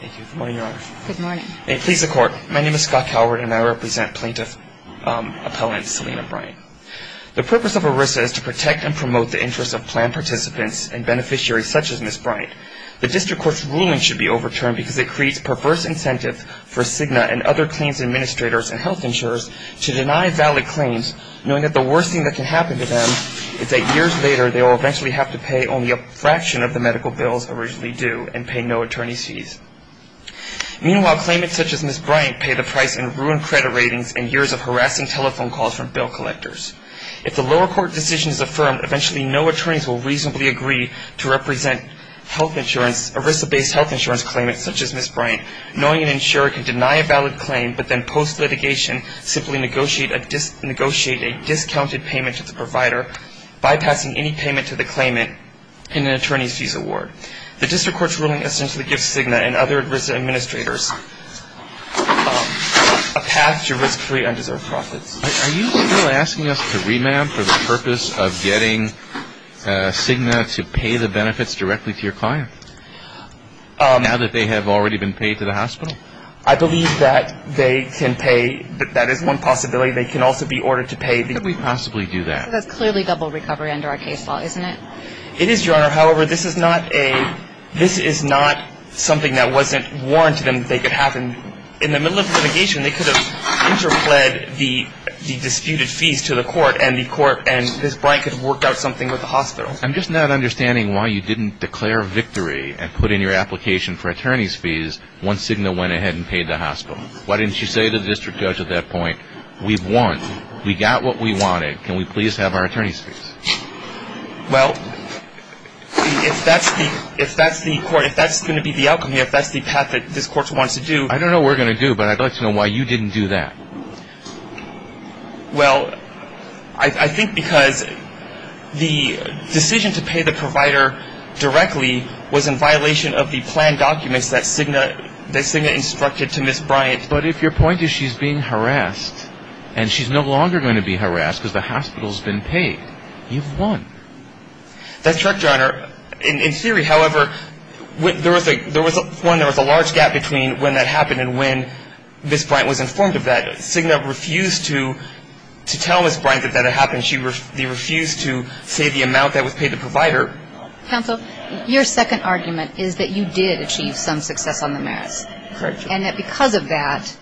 Good morning, Your Honor. Good morning. Please, the Court. My name is Scott Calvert, and I represent plaintiff appellant Selina Bryant. The purpose of ERISA is to protect and promote the interests of planned participants and beneficiaries such as Ms. Bryant. The district court's ruling should be overturned because it creates perverse incentive for Cigna and other claims administrators and health insurers to deny valid claims, knowing that the worst thing that can happen to them is that years later they will eventually have to pay only a fraction of the medical bills originally due and pay no attorney's fees. Meanwhile, claimants such as Ms. Bryant pay the price in ruined credit ratings and years of harassing telephone calls from bill collectors. If the lower court decision is affirmed, eventually no attorneys will reasonably agree to represent health insurance, ERISA-based health insurance claimants such as Ms. Bryant, knowing an insurer can deny a valid claim but then post-litigation simply negotiate a discounted payment to the provider, bypassing any payment to the claimant in an attorney's fees award. The district court's ruling essentially gives Cigna and other ERISA administrators a path to risk-free undeserved profits. Are you asking us to remand for the purpose of getting Cigna to pay the benefits directly to your client, now that they have already been paid to the hospital? I believe that they can pay. That is one possibility. They can also be ordered to pay. How can we possibly do that? Because that's clearly double recovery under our case law, isn't it? It is, Your Honor. However, this is not a – this is not something that wasn't warranted to them that they could have. In the middle of litigation, they could have interpled the disputed fees to the court and the court and Ms. Bryant could have worked out something with the hospital. I'm just not understanding why you didn't declare victory and put in your application for attorney's fees once Cigna went ahead and paid the hospital. Why didn't you say to the district judge at that point, we've won, we got what we wanted, can we please have our attorney's fees? Well, if that's the court – if that's going to be the outcome here, if that's the path that this court wants to do – I don't know what we're going to do, but I'd like to know why you didn't do that. Well, I think because the decision to pay the provider directly was in violation of the planned documents that Cigna instructed to Ms. Bryant. But if your point is she's being harassed and she's no longer going to be harassed because the hospital's been paid, you've won. That's correct, Your Honor. In theory, however, there was a large gap between when that happened and when Ms. Bryant was informed of that. Cigna refused to tell Ms. Bryant that that had happened. She refused to say the amount that was paid to the provider. Counsel, your second argument is that you did achieve some success on the merits. Correct, Your Honor. And that because of that,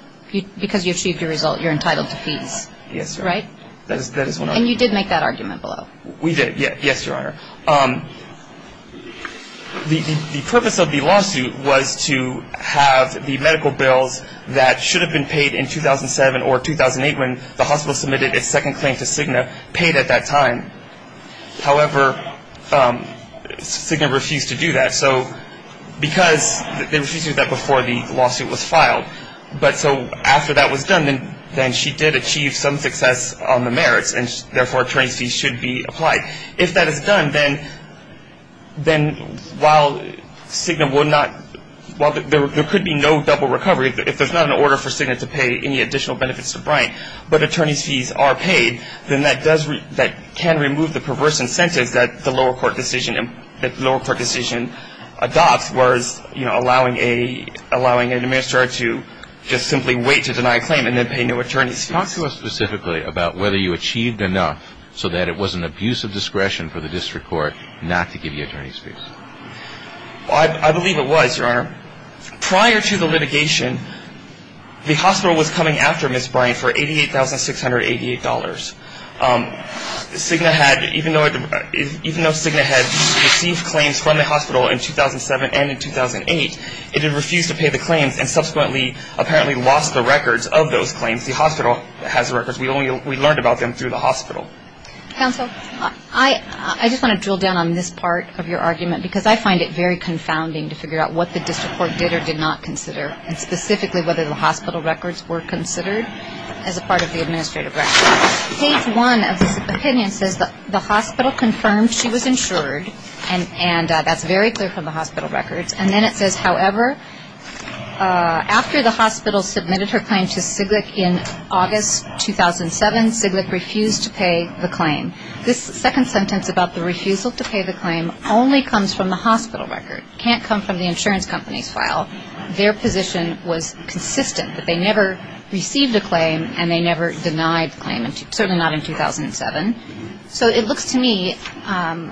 because you achieved your result, you're entitled to peace. Yes, Your Honor. Right? That is one argument. And you did make that argument below. We did. Yes, Your Honor. The purpose of the lawsuit was to have the medical bills that should have been paid in 2007 or 2008 when the hospital submitted its second claim to Cigna paid at that time. However, Cigna refused to do that. Because they refused to do that before the lawsuit was filed. But so after that was done, then she did achieve some success on the merits, and therefore attorney's fees should be applied. If that is done, then while Cigna will not – there could be no double recovery if there's not an order for Cigna to pay any additional benefits to Bryant, but attorney's fees are paid, then that can remove the perverse incentives that the lower court decision adopts whereas, you know, allowing an administrator to just simply wait to deny a claim and then pay no attorney's fees. Talk to us specifically about whether you achieved enough so that it was an abuse of discretion for the district court not to give you attorney's fees. I believe it was, Your Honor. Prior to the litigation, the hospital was coming after Ms. Bryant for $88,688. Cigna had – even though Cigna had received claims from the hospital in 2007 and in 2008, it had refused to pay the claims and subsequently apparently lost the records of those claims. The hospital has the records. We learned about them through the hospital. Counsel, I just want to drill down on this part of your argument because I find it very confounding to figure out what the district court did or did not consider and specifically whether the hospital records were considered as a part of the administrative record. Case one of this opinion says that the hospital confirmed she was insured and that's very clear from the hospital records. And then it says, however, after the hospital submitted her claim to Cigna in August 2007, Cigna refused to pay the claim. This second sentence about the refusal to pay the claim only comes from the hospital record. It can't come from the insurance company's file. Their position was consistent, that they never received a claim and they never denied the claim, certainly not in 2007. So it looks to me on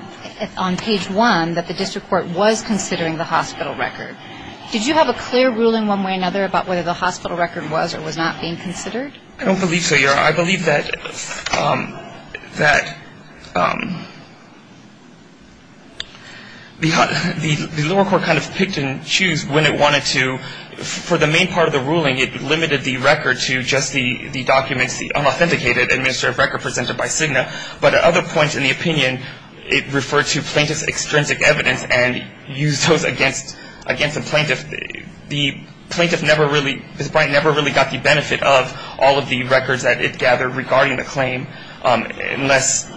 page one that the district court was considering the hospital record. Did you have a clear ruling one way or another about whether the hospital record was or was not being considered? I don't believe so, Your Honor. Your Honor, I believe that the lower court kind of picked and chose when it wanted to. For the main part of the ruling, it limited the record to just the documents, the unauthenticated administrative record presented by Cigna. But at other points in the opinion, it referred to plaintiff's extrinsic evidence and used those against the plaintiff. The plaintiff never really got the benefit of all of the records that it gathered regarding the claim unless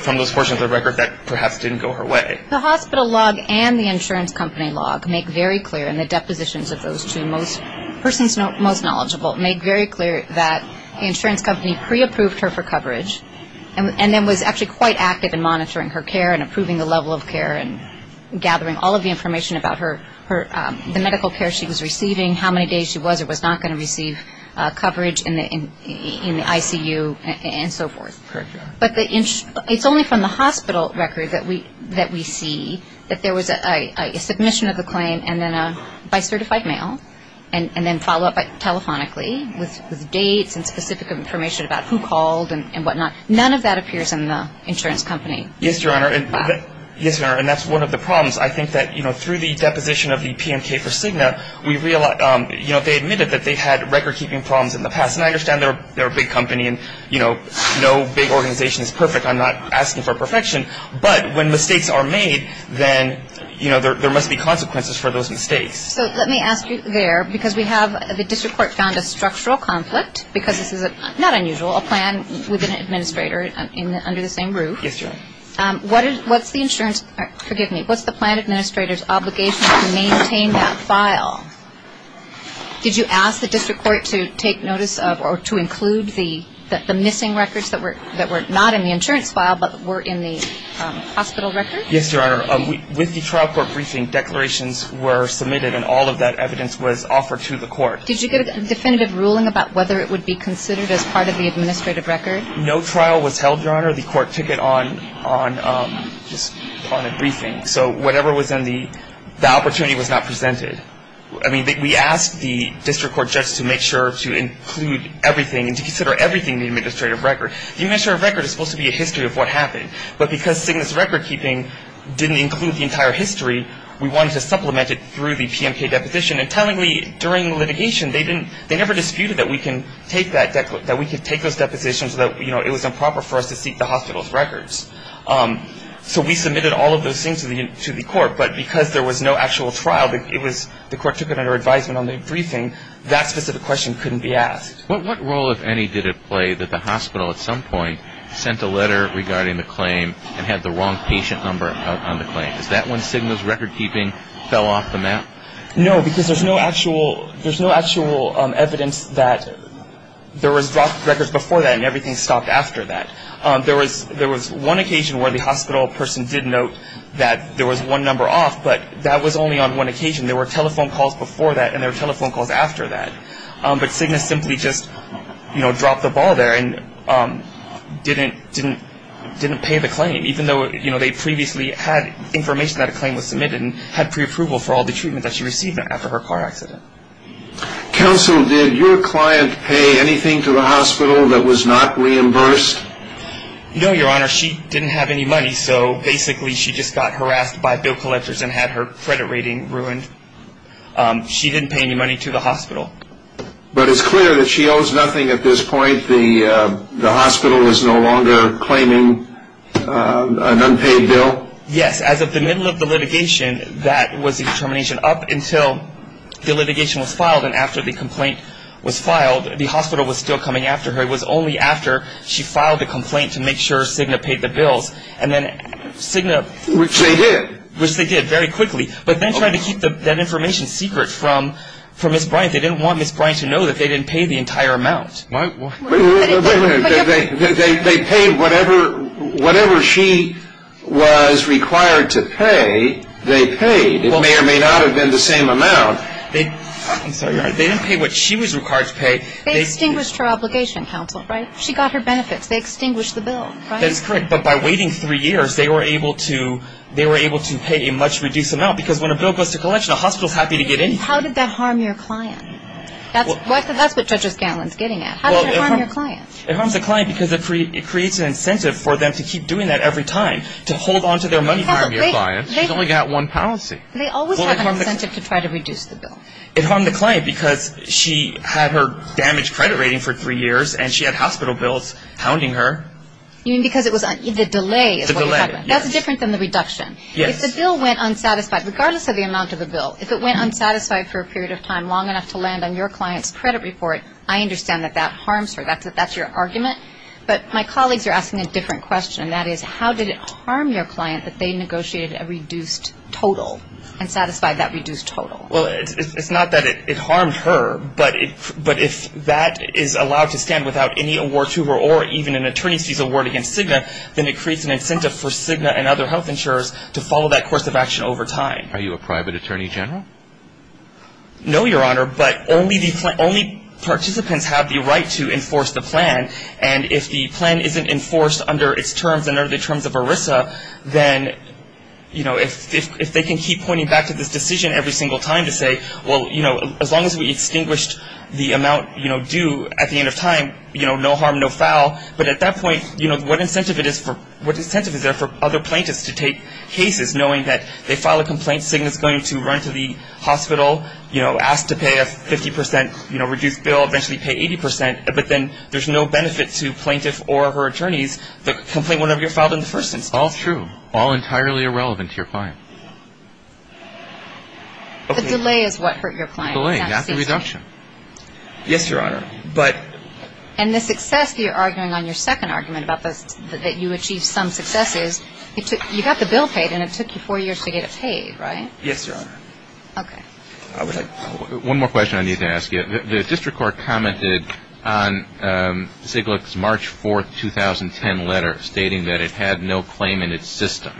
from those portions of the record that perhaps didn't go her way. The hospital log and the insurance company log make very clear, and the depositions of those two persons most knowledgeable, make very clear that the insurance company pre-approved her for coverage and then was actually quite active in monitoring her care and approving the level of care and gathering all of the information about the medical care she was receiving, how many days she was or was not going to receive coverage in the ICU, and so forth. Correct, Your Honor. But it's only from the hospital record that we see that there was a submission of the claim by certified mail and then follow-up telephonically with dates and specific information about who called and whatnot. None of that appears in the insurance company. Yes, Your Honor. Yes, Your Honor, and that's one of the problems. I think that, you know, through the deposition of the PMK for Cigna, we realize, you know, they admitted that they had record-keeping problems in the past, and I understand they're a big company and, you know, no big organization is perfect. I'm not asking for perfection. But when mistakes are made, then, you know, there must be consequences for those mistakes. So let me ask you there, because we have the district court found a structural conflict, because this is not unusual, a plan with an administrator under the same roof. Yes, Your Honor. What's the insurance or, forgive me, what's the plan administrator's obligation to maintain that file? Did you ask the district court to take notice of or to include the missing records that were not in the insurance file but were in the hospital record? Yes, Your Honor. With the trial court briefing, declarations were submitted, and all of that evidence was offered to the court. Did you get a definitive ruling about whether it would be considered as part of the administrative record? No trial was held, Your Honor. The court took it on a briefing. So whatever was in the – the opportunity was not presented. I mean, we asked the district court judge to make sure to include everything and to consider everything in the administrative record. The administrative record is supposed to be a history of what happened. But because Cygnus recordkeeping didn't include the entire history, we wanted to supplement it through the PMK deposition. And tellingly, during litigation, they never disputed that we can take that – that we can take those depositions so that, you know, it was improper for us to seek the hospital's records. So we submitted all of those things to the court. But because there was no actual trial, it was – the court took it under advisement on the briefing. That specific question couldn't be asked. What role, if any, did it play that the hospital, at some point, sent a letter regarding the claim and had the wrong patient number on the claim? Is that when Cygnus recordkeeping fell off the map? No, because there's no actual evidence that there was dropped records before that and everything stopped after that. There was one occasion where the hospital person did note that there was one number off, but that was only on one occasion. There were telephone calls before that and there were telephone calls after that. But Cygnus simply just, you know, dropped the ball there and didn't pay the claim, even though, you know, they previously had information that a claim was submitted and had preapproval for all the treatment that she received after her car accident. Counsel, did your client pay anything to the hospital that was not reimbursed? No, Your Honor. She didn't have any money, so basically she just got harassed by bill collectors and had her credit rating ruined. She didn't pay any money to the hospital. But it's clear that she owes nothing at this point. The hospital is no longer claiming an unpaid bill? Yes. As of the middle of the litigation, that was the determination. Up until the litigation was filed and after the complaint was filed, the hospital was still coming after her. It was only after she filed the complaint to make sure Cygnus paid the bills. And then Cygnus... Which they did. Which they did very quickly. But then trying to keep that information secret from Ms. Bryant, they didn't want Ms. Bryant to know that they didn't pay the entire amount. Wait a minute. They paid whatever she was required to pay, they paid. It may or may not have been the same amount. I'm sorry, Your Honor. They didn't pay what she was required to pay. They extinguished her obligation, Counsel, right? She got her benefits. They extinguished the bill, right? That's correct. But by waiting three years, they were able to pay a much reduced amount because when a bill goes to collection, a hospital is happy to get anything. How did that harm your client? That's what Judge O'Scanlan is getting at. How did that harm your client? It harms the client because it creates an incentive for them to keep doing that every time, to hold on to their money from your client. She's only got one policy. They always have an incentive to try to reduce the bill. It harmed the client because she had her damaged credit rating for three years and she had hospital bills hounding her. You mean because it was the delay? The delay, yes. That's different than the reduction. If the bill went unsatisfied, regardless of the amount of the bill, if it went unsatisfied for a period of time, long enough to land on your client's credit report, I understand that that harms her. That's your argument. But my colleagues are asking a different question, and that is how did it harm your client that they negotiated a reduced total and satisfied that reduced total? Well, it's not that it harmed her, but if that is allowed to stand without any award to her or even an attorney's fees award against Cigna, then it creates an incentive for Cigna and other health insurers to follow that course of action over time. Are you a private attorney general? No, Your Honor, but only participants have the right to enforce the plan, and if the plan isn't enforced under its terms and under the terms of ERISA, then if they can keep pointing back to this decision every single time to say, well, as long as we extinguished the amount due at the end of time, no harm, no foul, but at that point, what incentive is there for other plaintiffs to take cases knowing that they file a complaint, Cigna is going to run to the hospital, ask to pay a 50 percent reduced bill, eventually pay 80 percent, but then there's no benefit to plaintiff or her attorneys that complain whenever you're filed in the first instance. All true. All entirely irrelevant to your client. The delay is what hurt your client. The delay, not the reduction. Yes, Your Honor, but — And the success that you're arguing on your second argument about that you achieved some successes, you got the bill paid and it took you four years to get it paid, right? Yes, Your Honor. Okay. One more question I need to ask you. The district court commented on Siglick's March 4, 2010 letter stating that it had no claim in its system,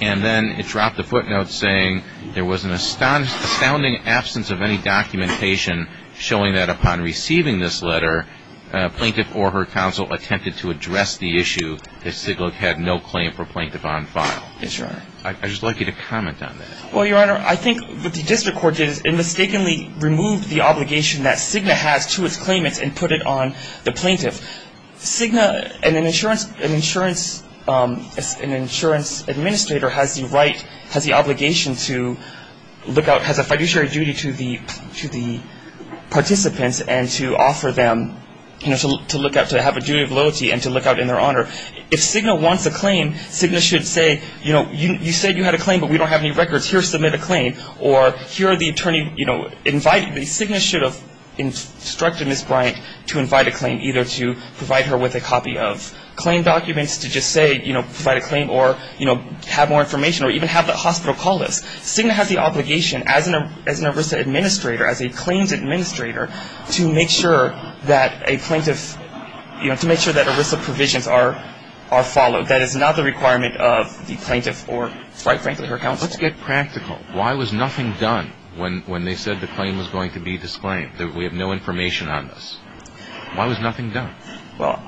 and then it dropped a footnote saying there was an astounding absence of any documentation showing that upon receiving this letter, plaintiff or her counsel attempted to address the issue that Siglick had no claim for plaintiff on file. Yes, Your Honor. I'd just like you to comment on that. Well, Your Honor, I think what the district court did is it mistakenly removed the obligation that Cigna has to its claimants and put it on the plaintiff. Cigna and an insurance administrator has the right, has the obligation to look out, has a fiduciary duty to the participants and to offer them, to look out, to have a duty of loyalty and to look out in their honor. If Cigna wants a claim, Cigna should say, you know, you said you had a claim but we don't have any records. Here, submit a claim, or here are the attorney, you know, invite. Cigna should have instructed Ms. Bryant to invite a claim, either to provide her with a copy of claim documents to just say, you know, provide a claim or, you know, have more information or even have the hospital call us. Cigna has the obligation as an ERISA administrator, as a claims administrator, to make sure that a plaintiff, you know, to make sure that ERISA provisions are followed. That is not the requirement of the plaintiff or, quite frankly, her counsel. Let's get practical. Why was nothing done when they said the claim was going to be disclaimed, that we have no information on this? Why was nothing done? Well,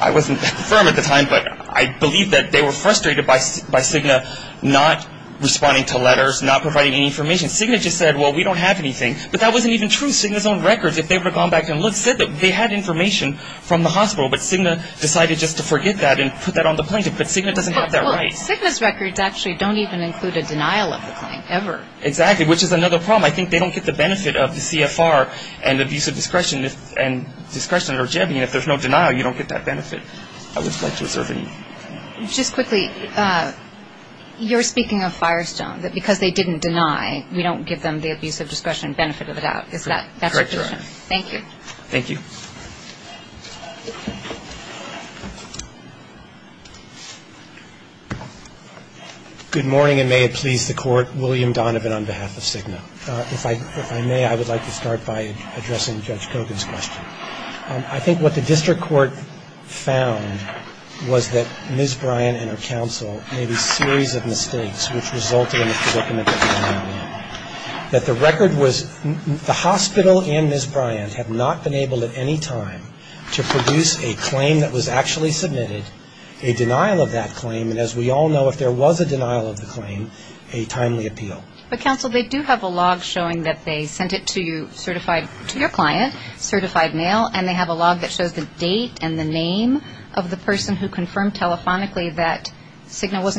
I wasn't firm at the time, but I believe that they were frustrated by Cigna not responding to letters, not providing any information. Cigna just said, well, we don't have anything. But that wasn't even true. Cigna's own records, if they would have gone back and looked, said that they had information from the hospital, but Cigna decided just to forget that and put that on the plaintiff. But Cigna doesn't have that right. Well, Cigna's records actually don't even include a denial of the claim, ever. Exactly, which is another problem. I think they don't get the benefit of the CFR and the abuse of discretion and discretion or Jebby, and if there's no denial, you don't get that benefit. I would like to observe it. Just quickly, you're speaking of Firestone, that because they didn't deny, we don't give them the abuse of discretion benefit of the doubt. Is that correct? Correct, Your Honor. Thank you. Thank you. Good morning, and may it please the Court. William Donovan on behalf of Cigna. If I may, I would like to start by addressing Judge Kogan's question. I think what the district court found was that Ms. Bryant and her counsel made a series of mistakes, which resulted in a predicament. That the record was the hospital and Ms. Bryant had not been able at any time to produce a claim that was actually submitted, a denial of that claim, and as we all know, if there was a denial of the claim, a timely appeal. But, counsel, they do have a log showing that they sent it to your client, certified mail, and they have a log that shows the date and the name of the person who confirmed telephonically that Cigna was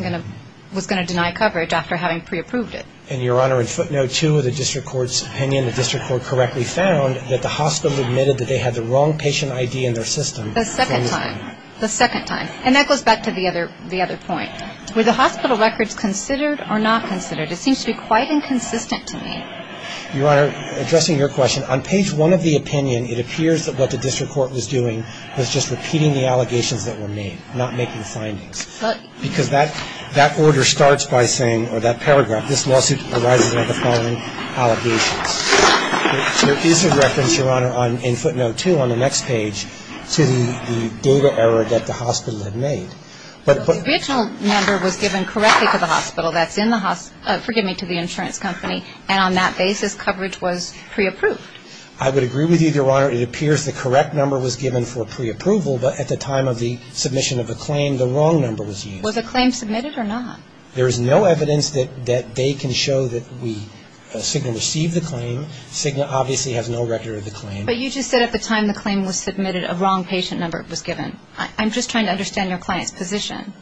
going to deny coverage after having pre-approved it. And, Your Honor, in footnote two of the district court's opinion, the district court correctly found that the hospital admitted that they had the wrong patient ID in their system. The second time. The second time. And that goes back to the other point. Were the hospital records considered or not considered? It seems to be quite inconsistent to me. Your Honor, addressing your question, on page one of the opinion, it appears that what the district court was doing was just repeating the allegations that were made, not making findings. Because that order starts by saying, or that paragraph, this lawsuit arises out of the following allegations. There is a reference, Your Honor, in footnote two on the next page, to the data error that the hospital had made. But the original number was given correctly to the hospital that's in the hospital insurance company, and on that basis, coverage was pre-approved. I would agree with you, Your Honor. It appears the correct number was given for pre-approval, but at the time of the submission of the claim, the wrong number was used. Was the claim submitted or not? There is no evidence that they can show that Cigna received the claim. Cigna obviously has no record of the claim. But you just said at the time the claim was submitted, a wrong patient number was given. I'm just trying to understand your client's position.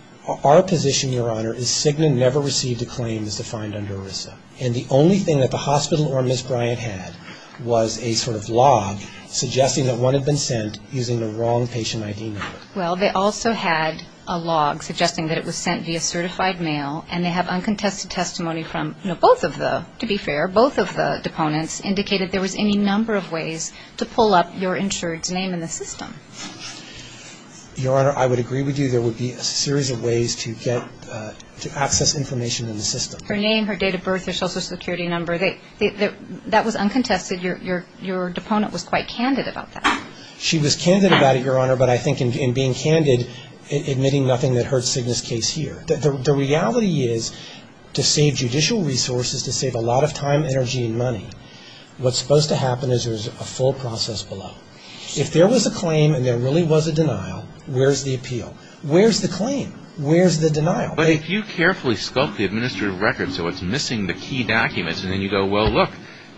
Our position, Your Honor, is Cigna never received a claim as defined under ERISA. And the only thing that the hospital or Ms. Bryant had was a sort of log suggesting that one had been sent using the wrong patient ID number. Well, they also had a log suggesting that it was sent via certified mail, and they have uncontested testimony from both of the, to be fair, both of the deponents indicated there was any number of ways to pull up your insured's name in the system. Your Honor, I would agree with you there would be a series of ways to get, to access information in the system. Her name, her date of birth, her social security number, that was uncontested. Your deponent was quite candid about that. She was candid about it, Your Honor, but I think in being candid, admitting nothing that hurts Cigna's case here. The reality is to save judicial resources, to save a lot of time, energy, and money, what's supposed to happen is there's a full process below. If there was a claim and there really was a denial, where's the appeal? Where's the claim? Where's the denial? But if you carefully sculpt the administrative record so it's missing the key documents and then you go, well, look,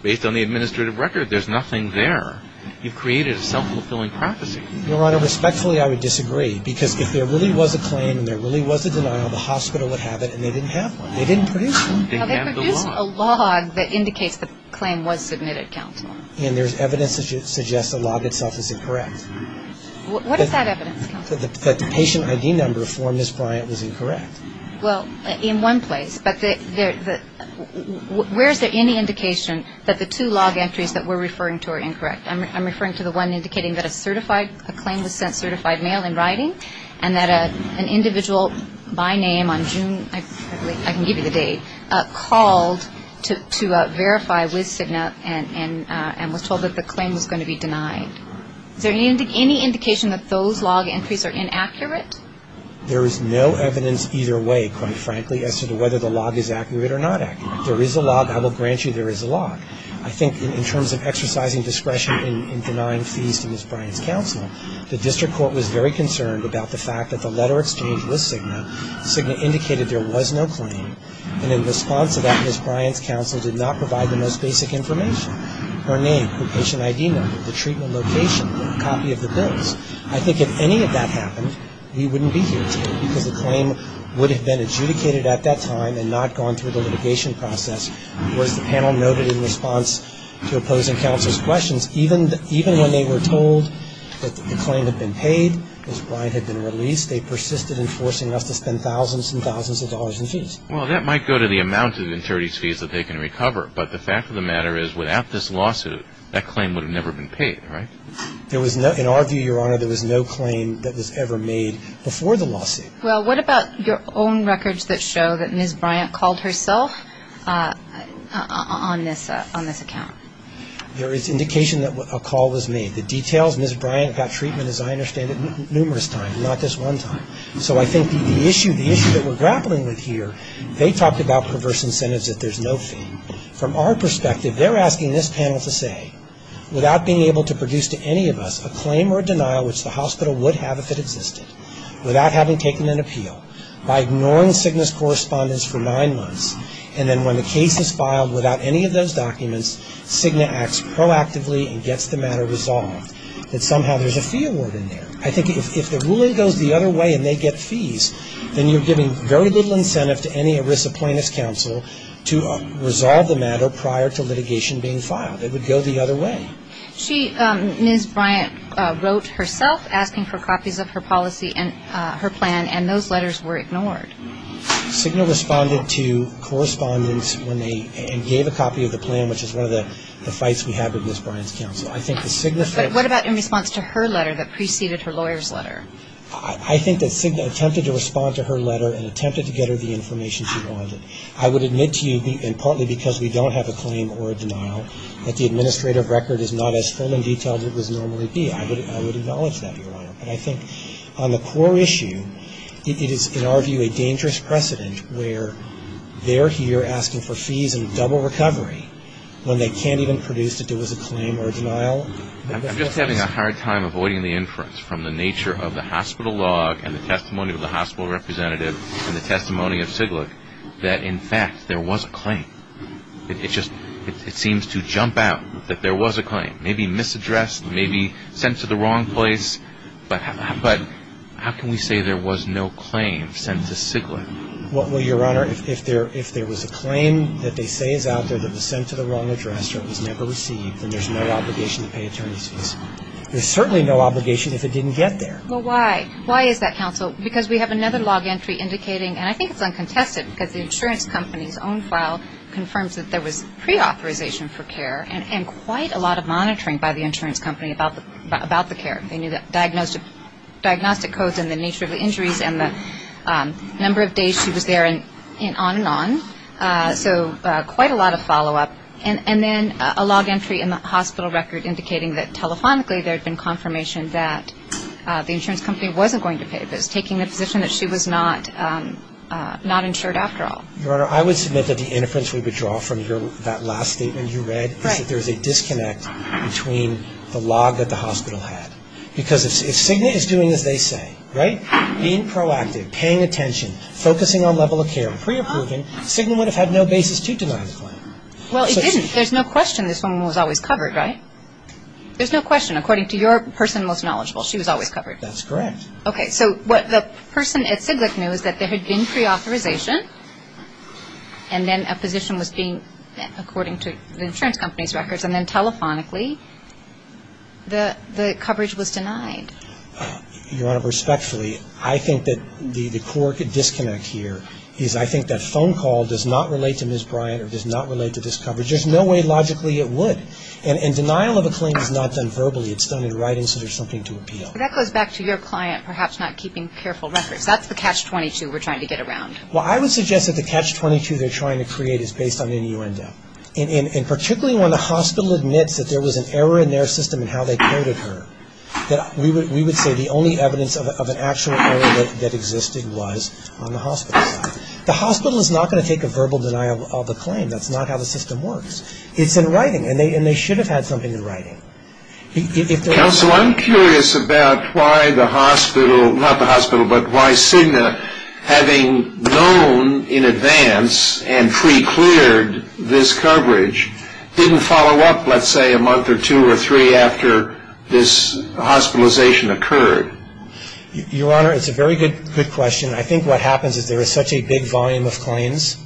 based on the administrative record, there's nothing there, you've created a self-fulfilling prophecy. Your Honor, respectfully, I would disagree because if there really was a claim and there really was a denial, the hospital would have it and they didn't have one. They didn't produce one. They didn't have the log. They produced a log that indicates the claim was submitted, Counselor. And there's evidence that suggests the log itself is incorrect. What is that evidence, Counselor? That the patient ID number for Ms. Bryant was incorrect. Well, in one place, but where is there any indication that the two log entries that we're referring to are incorrect? I'm referring to the one indicating that a claim was sent certified mail in writing and that an individual by name on June, I can give you the date, called to verify with Cigna and was told that the claim was going to be denied. Is there any indication that those log entries are inaccurate? There is no evidence either way, quite frankly, as to whether the log is accurate or not accurate. There is a log. I will grant you there is a log. I think in terms of exercising discretion in denying fees to Ms. Bryant's counsel, the district court was very concerned about the fact that the letter exchanged with Cigna indicated there was no claim. And in response to that, Ms. Bryant's counsel did not provide the most basic information. Her name, her patient ID number, the treatment location, a copy of the bills. I think if any of that happened, we wouldn't be here today because the claim would have been adjudicated at that time and not gone through the litigation process. Whereas the panel noted in response to opposing counsel's questions, even when they were told that the claim had been paid, Ms. Bryant had been released, they persisted in forcing us to spend thousands and thousands of dollars in fees. Well, that might go to the amount of insurance fees that they can recover, but the fact of the matter is without this lawsuit, that claim would have never been paid, right? In our view, Your Honor, there was no claim that was ever made before the lawsuit. Well, what about your own records that show that Ms. Bryant called herself on this account? There is indication that a call was made. The details, Ms. Bryant got treatment, as I understand it, numerous times, but not just one time. So I think the issue that we're grappling with here, they talked about perverse incentives that there's no fee. From our perspective, they're asking this panel to say, without being able to produce to any of us a claim or a denial which the hospital would have if it existed, without having taken an appeal, by ignoring Cigna's correspondence for nine months, and then when the case is filed without any of those documents, Cigna acts proactively and gets the matter resolved, that somehow there's a fee award in there. I think if the ruling goes the other way and they get fees, then you're giving very little incentive to any ERISA plaintiff's counsel to resolve the matter prior to litigation being filed. It would go the other way. Ms. Bryant wrote herself asking for copies of her policy and her plan, and those letters were ignored. Cigna responded to correspondence and gave a copy of the plan, What about in response to her letter that preceded her lawyer's letter? I think that Cigna attempted to respond to her letter and attempted to get her the information she wanted. I would admit to you, and partly because we don't have a claim or a denial, that the administrative record is not as full and detailed as it would normally be. I would acknowledge that, Your Honor. But I think on the core issue, it is, in our view, a dangerous precedent where they're here asking for fees and double recovery when they can't even produce that there was a claim or a denial. I'm just having a hard time avoiding the inference from the nature of the hospital log and the testimony of the hospital representative and the testimony of Siglid that, in fact, there was a claim. It just seems to jump out that there was a claim. Maybe misaddressed, maybe sent to the wrong place, but how can we say there was no claim sent to Siglid? Well, Your Honor, if there was a claim that they say is out there that was sent to the wrong address or it was never received, then there's no obligation to pay attorneys' fees. There's certainly no obligation if it didn't get there. Well, why? Why is that, counsel? Because we have another log entry indicating, and I think it's uncontested because the insurance company's own file confirms that there was preauthorization for care and quite a lot of monitoring by the insurance company about the care. They knew the diagnostic codes and the nature of the injuries and the number of days she was there and on and on. So quite a lot of follow-up. And then a log entry in the hospital record indicating that telephonically there had been confirmation that the insurance company wasn't going to pay, but it's taking the position that she was not insured after all. Your Honor, I would submit that the inference we would draw from that last statement you read is that there's a disconnect between the log that the hospital had. Because if Cigna is doing as they say, right, being proactive, paying attention, focusing on level of care and preapproving, Cigna would have had no basis to deny the claim. Well, it didn't. There's no question this woman was always covered, right? There's no question. According to your person most knowledgeable, she was always covered. That's correct. Okay. So what the person at Ciglec knew is that there had been preauthorization and then a position was being, according to the insurance company's records, and then telephonically the coverage was denied. Your Honor, respectfully, I think that the core disconnect here is I think that phone call does not relate to Ms. Bryant or does not relate to this coverage. There's no way logically it would. And denial of a claim is not done verbally. It's done in writing so there's something to appeal. That goes back to your client perhaps not keeping careful records. That's the catch-22 we're trying to get around. Well, I would suggest that the catch-22 they're trying to create is based on NU&L. And particularly when the hospital admits that there was an error in their system in how they coded her, that we would say the only evidence of an actual error that existed was on the hospital side. The hospital is not going to take a verbal denial of a claim. That's not how the system works. It's in writing and they should have had something in writing. but why Cigna, having known in advance and pre-cleared this coverage, didn't follow up let's say a month or two or three after this hospitalization occurred? Your Honor, it's a very good question. I think what happens is there is such a big volume of claims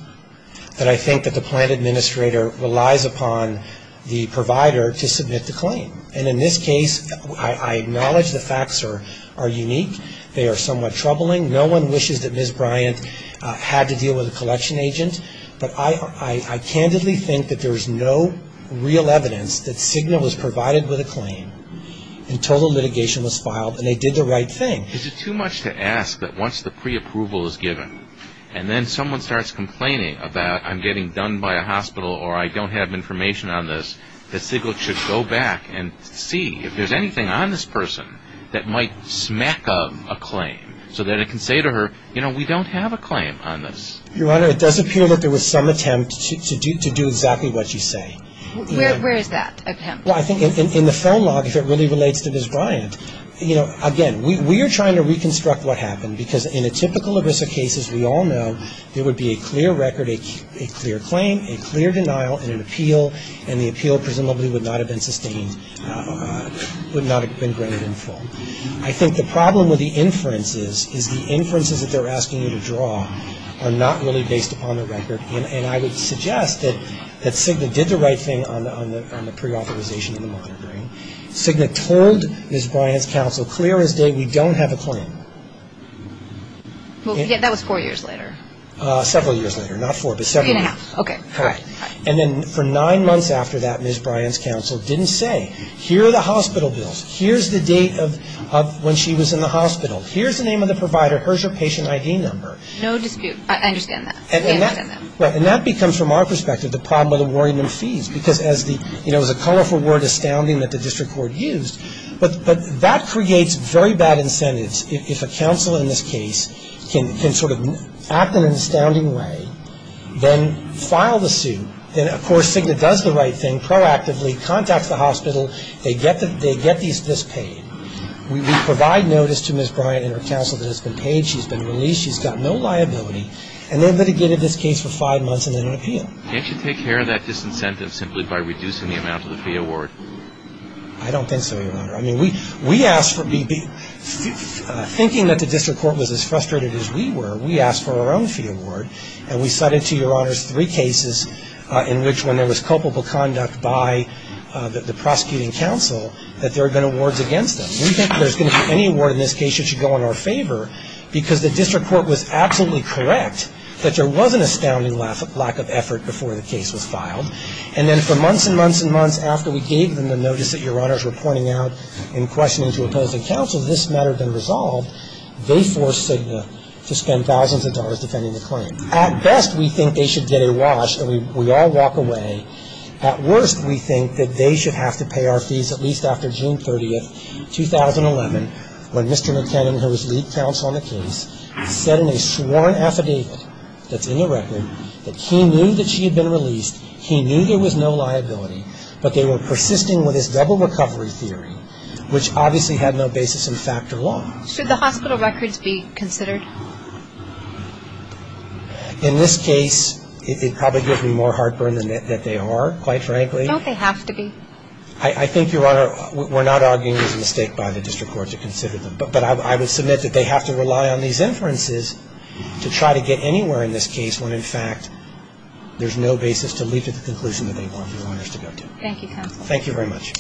that I think that the plant administrator relies upon the provider to submit the claim. And in this case, I acknowledge the facts are unique. They are somewhat troubling. No one wishes that Ms. Bryant had to deal with a collection agent. But I candidly think that there is no real evidence that Cigna was provided with a claim and total litigation was filed and they did the right thing. Is it too much to ask that once the pre-approval is given and then someone starts complaining about I'm getting done by a hospital or I don't have information on this, that Cigna should go back and see if there's anything on this person that might smack up a claim so that it can say to her, you know, we don't have a claim on this. Your Honor, it does appear that there was some attempt to do exactly what you say. Where is that attempt? Well, I think in the phone log, if it really relates to Ms. Bryant, you know, again, we are trying to reconstruct what happened because in a typical ERISA case, as we all know, there would be a clear record, a clear claim, a clear denial and an appeal and the appeal presumably would not have been sustained, would not have been granted in full. I think the problem with the inferences is the inferences that they're asking you to draw are not really based upon the record and I would suggest that Cigna did the right thing on the pre-authorization and the monitoring. Cigna told Ms. Bryant's counsel clear as day, we don't have a claim. Well, that was four years later. Several years later, not four, but several. Three and a half, okay. Correct. And then for nine months after that, Ms. Bryant's counsel didn't say, here are the hospital bills, here's the date of when she was in the hospital, here's the name of the provider, here's your patient ID number. No dispute. I understand that. And that becomes, from our perspective, the problem with awarding them fees because as the, you know, it was a colorful word, astounding, that the district court used, but that creates very bad incentives if a counsel in this case can sort of act in an astounding way, then file the suit, and, of course, Cigna does the right thing, proactively contacts the hospital, they get this paid, we provide notice to Ms. Bryant and her counsel that it's been paid, she's been released, she's got no liability, and then litigated this case for five months and then an appeal. Can't you take care of that disincentive simply by reducing the amount of the fee award? I don't think so, Your Honor. I mean, we asked for, thinking that the district court was as frustrated as we were, we asked for our own fee award, and we cited to Your Honors three cases in which, when there was culpable conduct by the prosecuting counsel, that there had been awards against them. We think there's going to be any award in this case that should go in our favor because the district court was absolutely correct that there was an astounding lack of effort before the case was filed, and then for months and months and months after we gave them the notice that Your Honors were pointing out in questioning to opposing counsel this matter had been resolved, they forced Cigna to spend thousands of dollars defending the claim. At best, we think they should get a wash and we all walk away. At worst, we think that they should have to pay our fees at least after June 30th, 2011, when Mr. McKinnon, who was lead counsel on the case, said in a sworn affidavit that's in the record that he knew that she had been released, he knew there was no liability, but they were persisting with this double recovery theory, which obviously had no basis in fact or law. Should the hospital records be considered? In this case, it probably gives me more heartburn than they are, quite frankly. Don't they have to be? I think, Your Honor, we're not arguing there's a mistake by the district court to consider them, but I would submit that they have to rely on these inferences to try to get anywhere in this case when, in fact, there's no basis to lead to the conclusion that they want their owners to go to. Thank you, counsel. Thank you very much.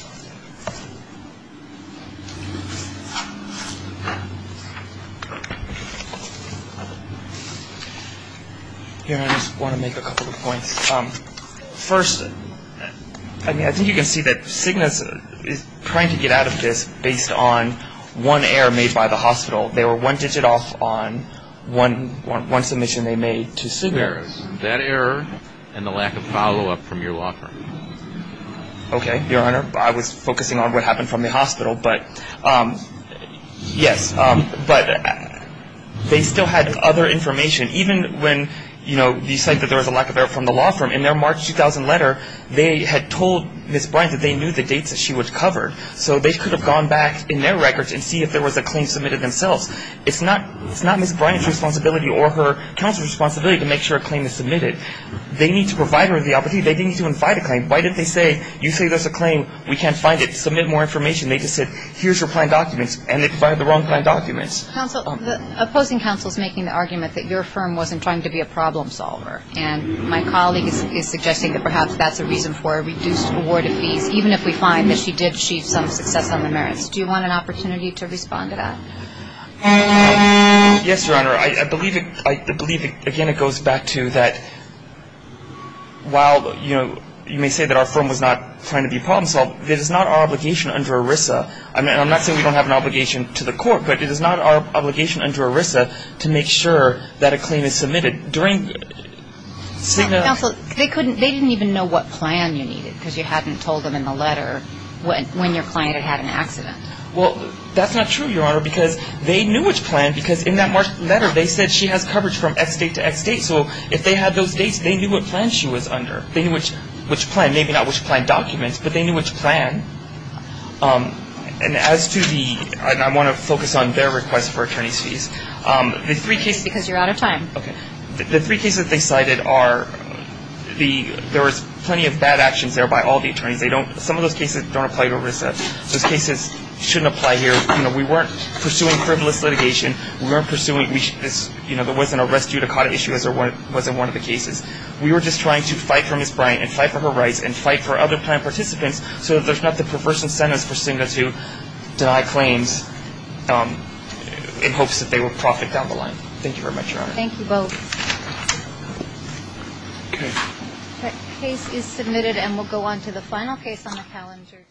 Your Honor, I just want to make a couple of points. First, I think you can see that Cigna is trying to get out of this based on one error made by the hospital. They were one digit off on one submission they made to Cigna. That error and the lack of follow-up from your law firm. Okay. Your Honor, I was focusing on what happened from the hospital, but yes. But they still had other information. Even when, you know, you cite that there was a lack of error from the law firm, in their March 2000 letter, they had told Ms. Bryant that they knew the dates that she was covered, so they could have gone back in their records and see if there was a claim submitted themselves. It's not Ms. Bryant's responsibility or her counsel's responsibility to make sure a claim is submitted. They need to provide her with the opportunity. They didn't need to invite a claim. Why did they say, you say there's a claim, we can't find it, submit more information? They just said, here's your plan documents, and they provided the wrong plan documents. Counsel, the opposing counsel is making the argument that your firm wasn't trying to be a problem solver, and my colleague is suggesting that perhaps that's a reason for a reduced award of fees. Even if we find that she did achieve some success on the merits. Do you want an opportunity to respond to that? Yes, Your Honor. I believe, again, it goes back to that while, you know, you may say that our firm was not trying to be a problem solver, it is not our obligation under ERISA, and I'm not saying we don't have an obligation to the court, but it is not our obligation under ERISA to make sure that a claim is submitted. Counsel, they didn't even know what plan you needed, because you hadn't told them in the letter when your client had had an accident. Well, that's not true, Your Honor, because they knew which plan, because in that March letter, they said she has coverage from X date to X date, so if they had those dates, they knew what plan she was under. They knew which plan, maybe not which plan documents, but they knew which plan. And as to the, and I want to focus on their request for attorney's fees. Because you're out of time. Okay. The three cases they cited are the, there was plenty of bad actions there by all the attorneys. They don't, some of those cases don't apply to ERISA. Those cases shouldn't apply here. You know, we weren't pursuing frivolous litigation. We weren't pursuing this, you know, there wasn't an arrest due to caught issue as there wasn't one of the cases. We were just trying to fight for Ms. Bryant and fight for her rights and fight for other plan participants so that there's not the perverse incentives pursuant to deny claims in hopes that they will profit down the line. Thank you very much, Your Honor. Thank you both. Okay. Case is submitted and we'll go on to the final case on the calendar.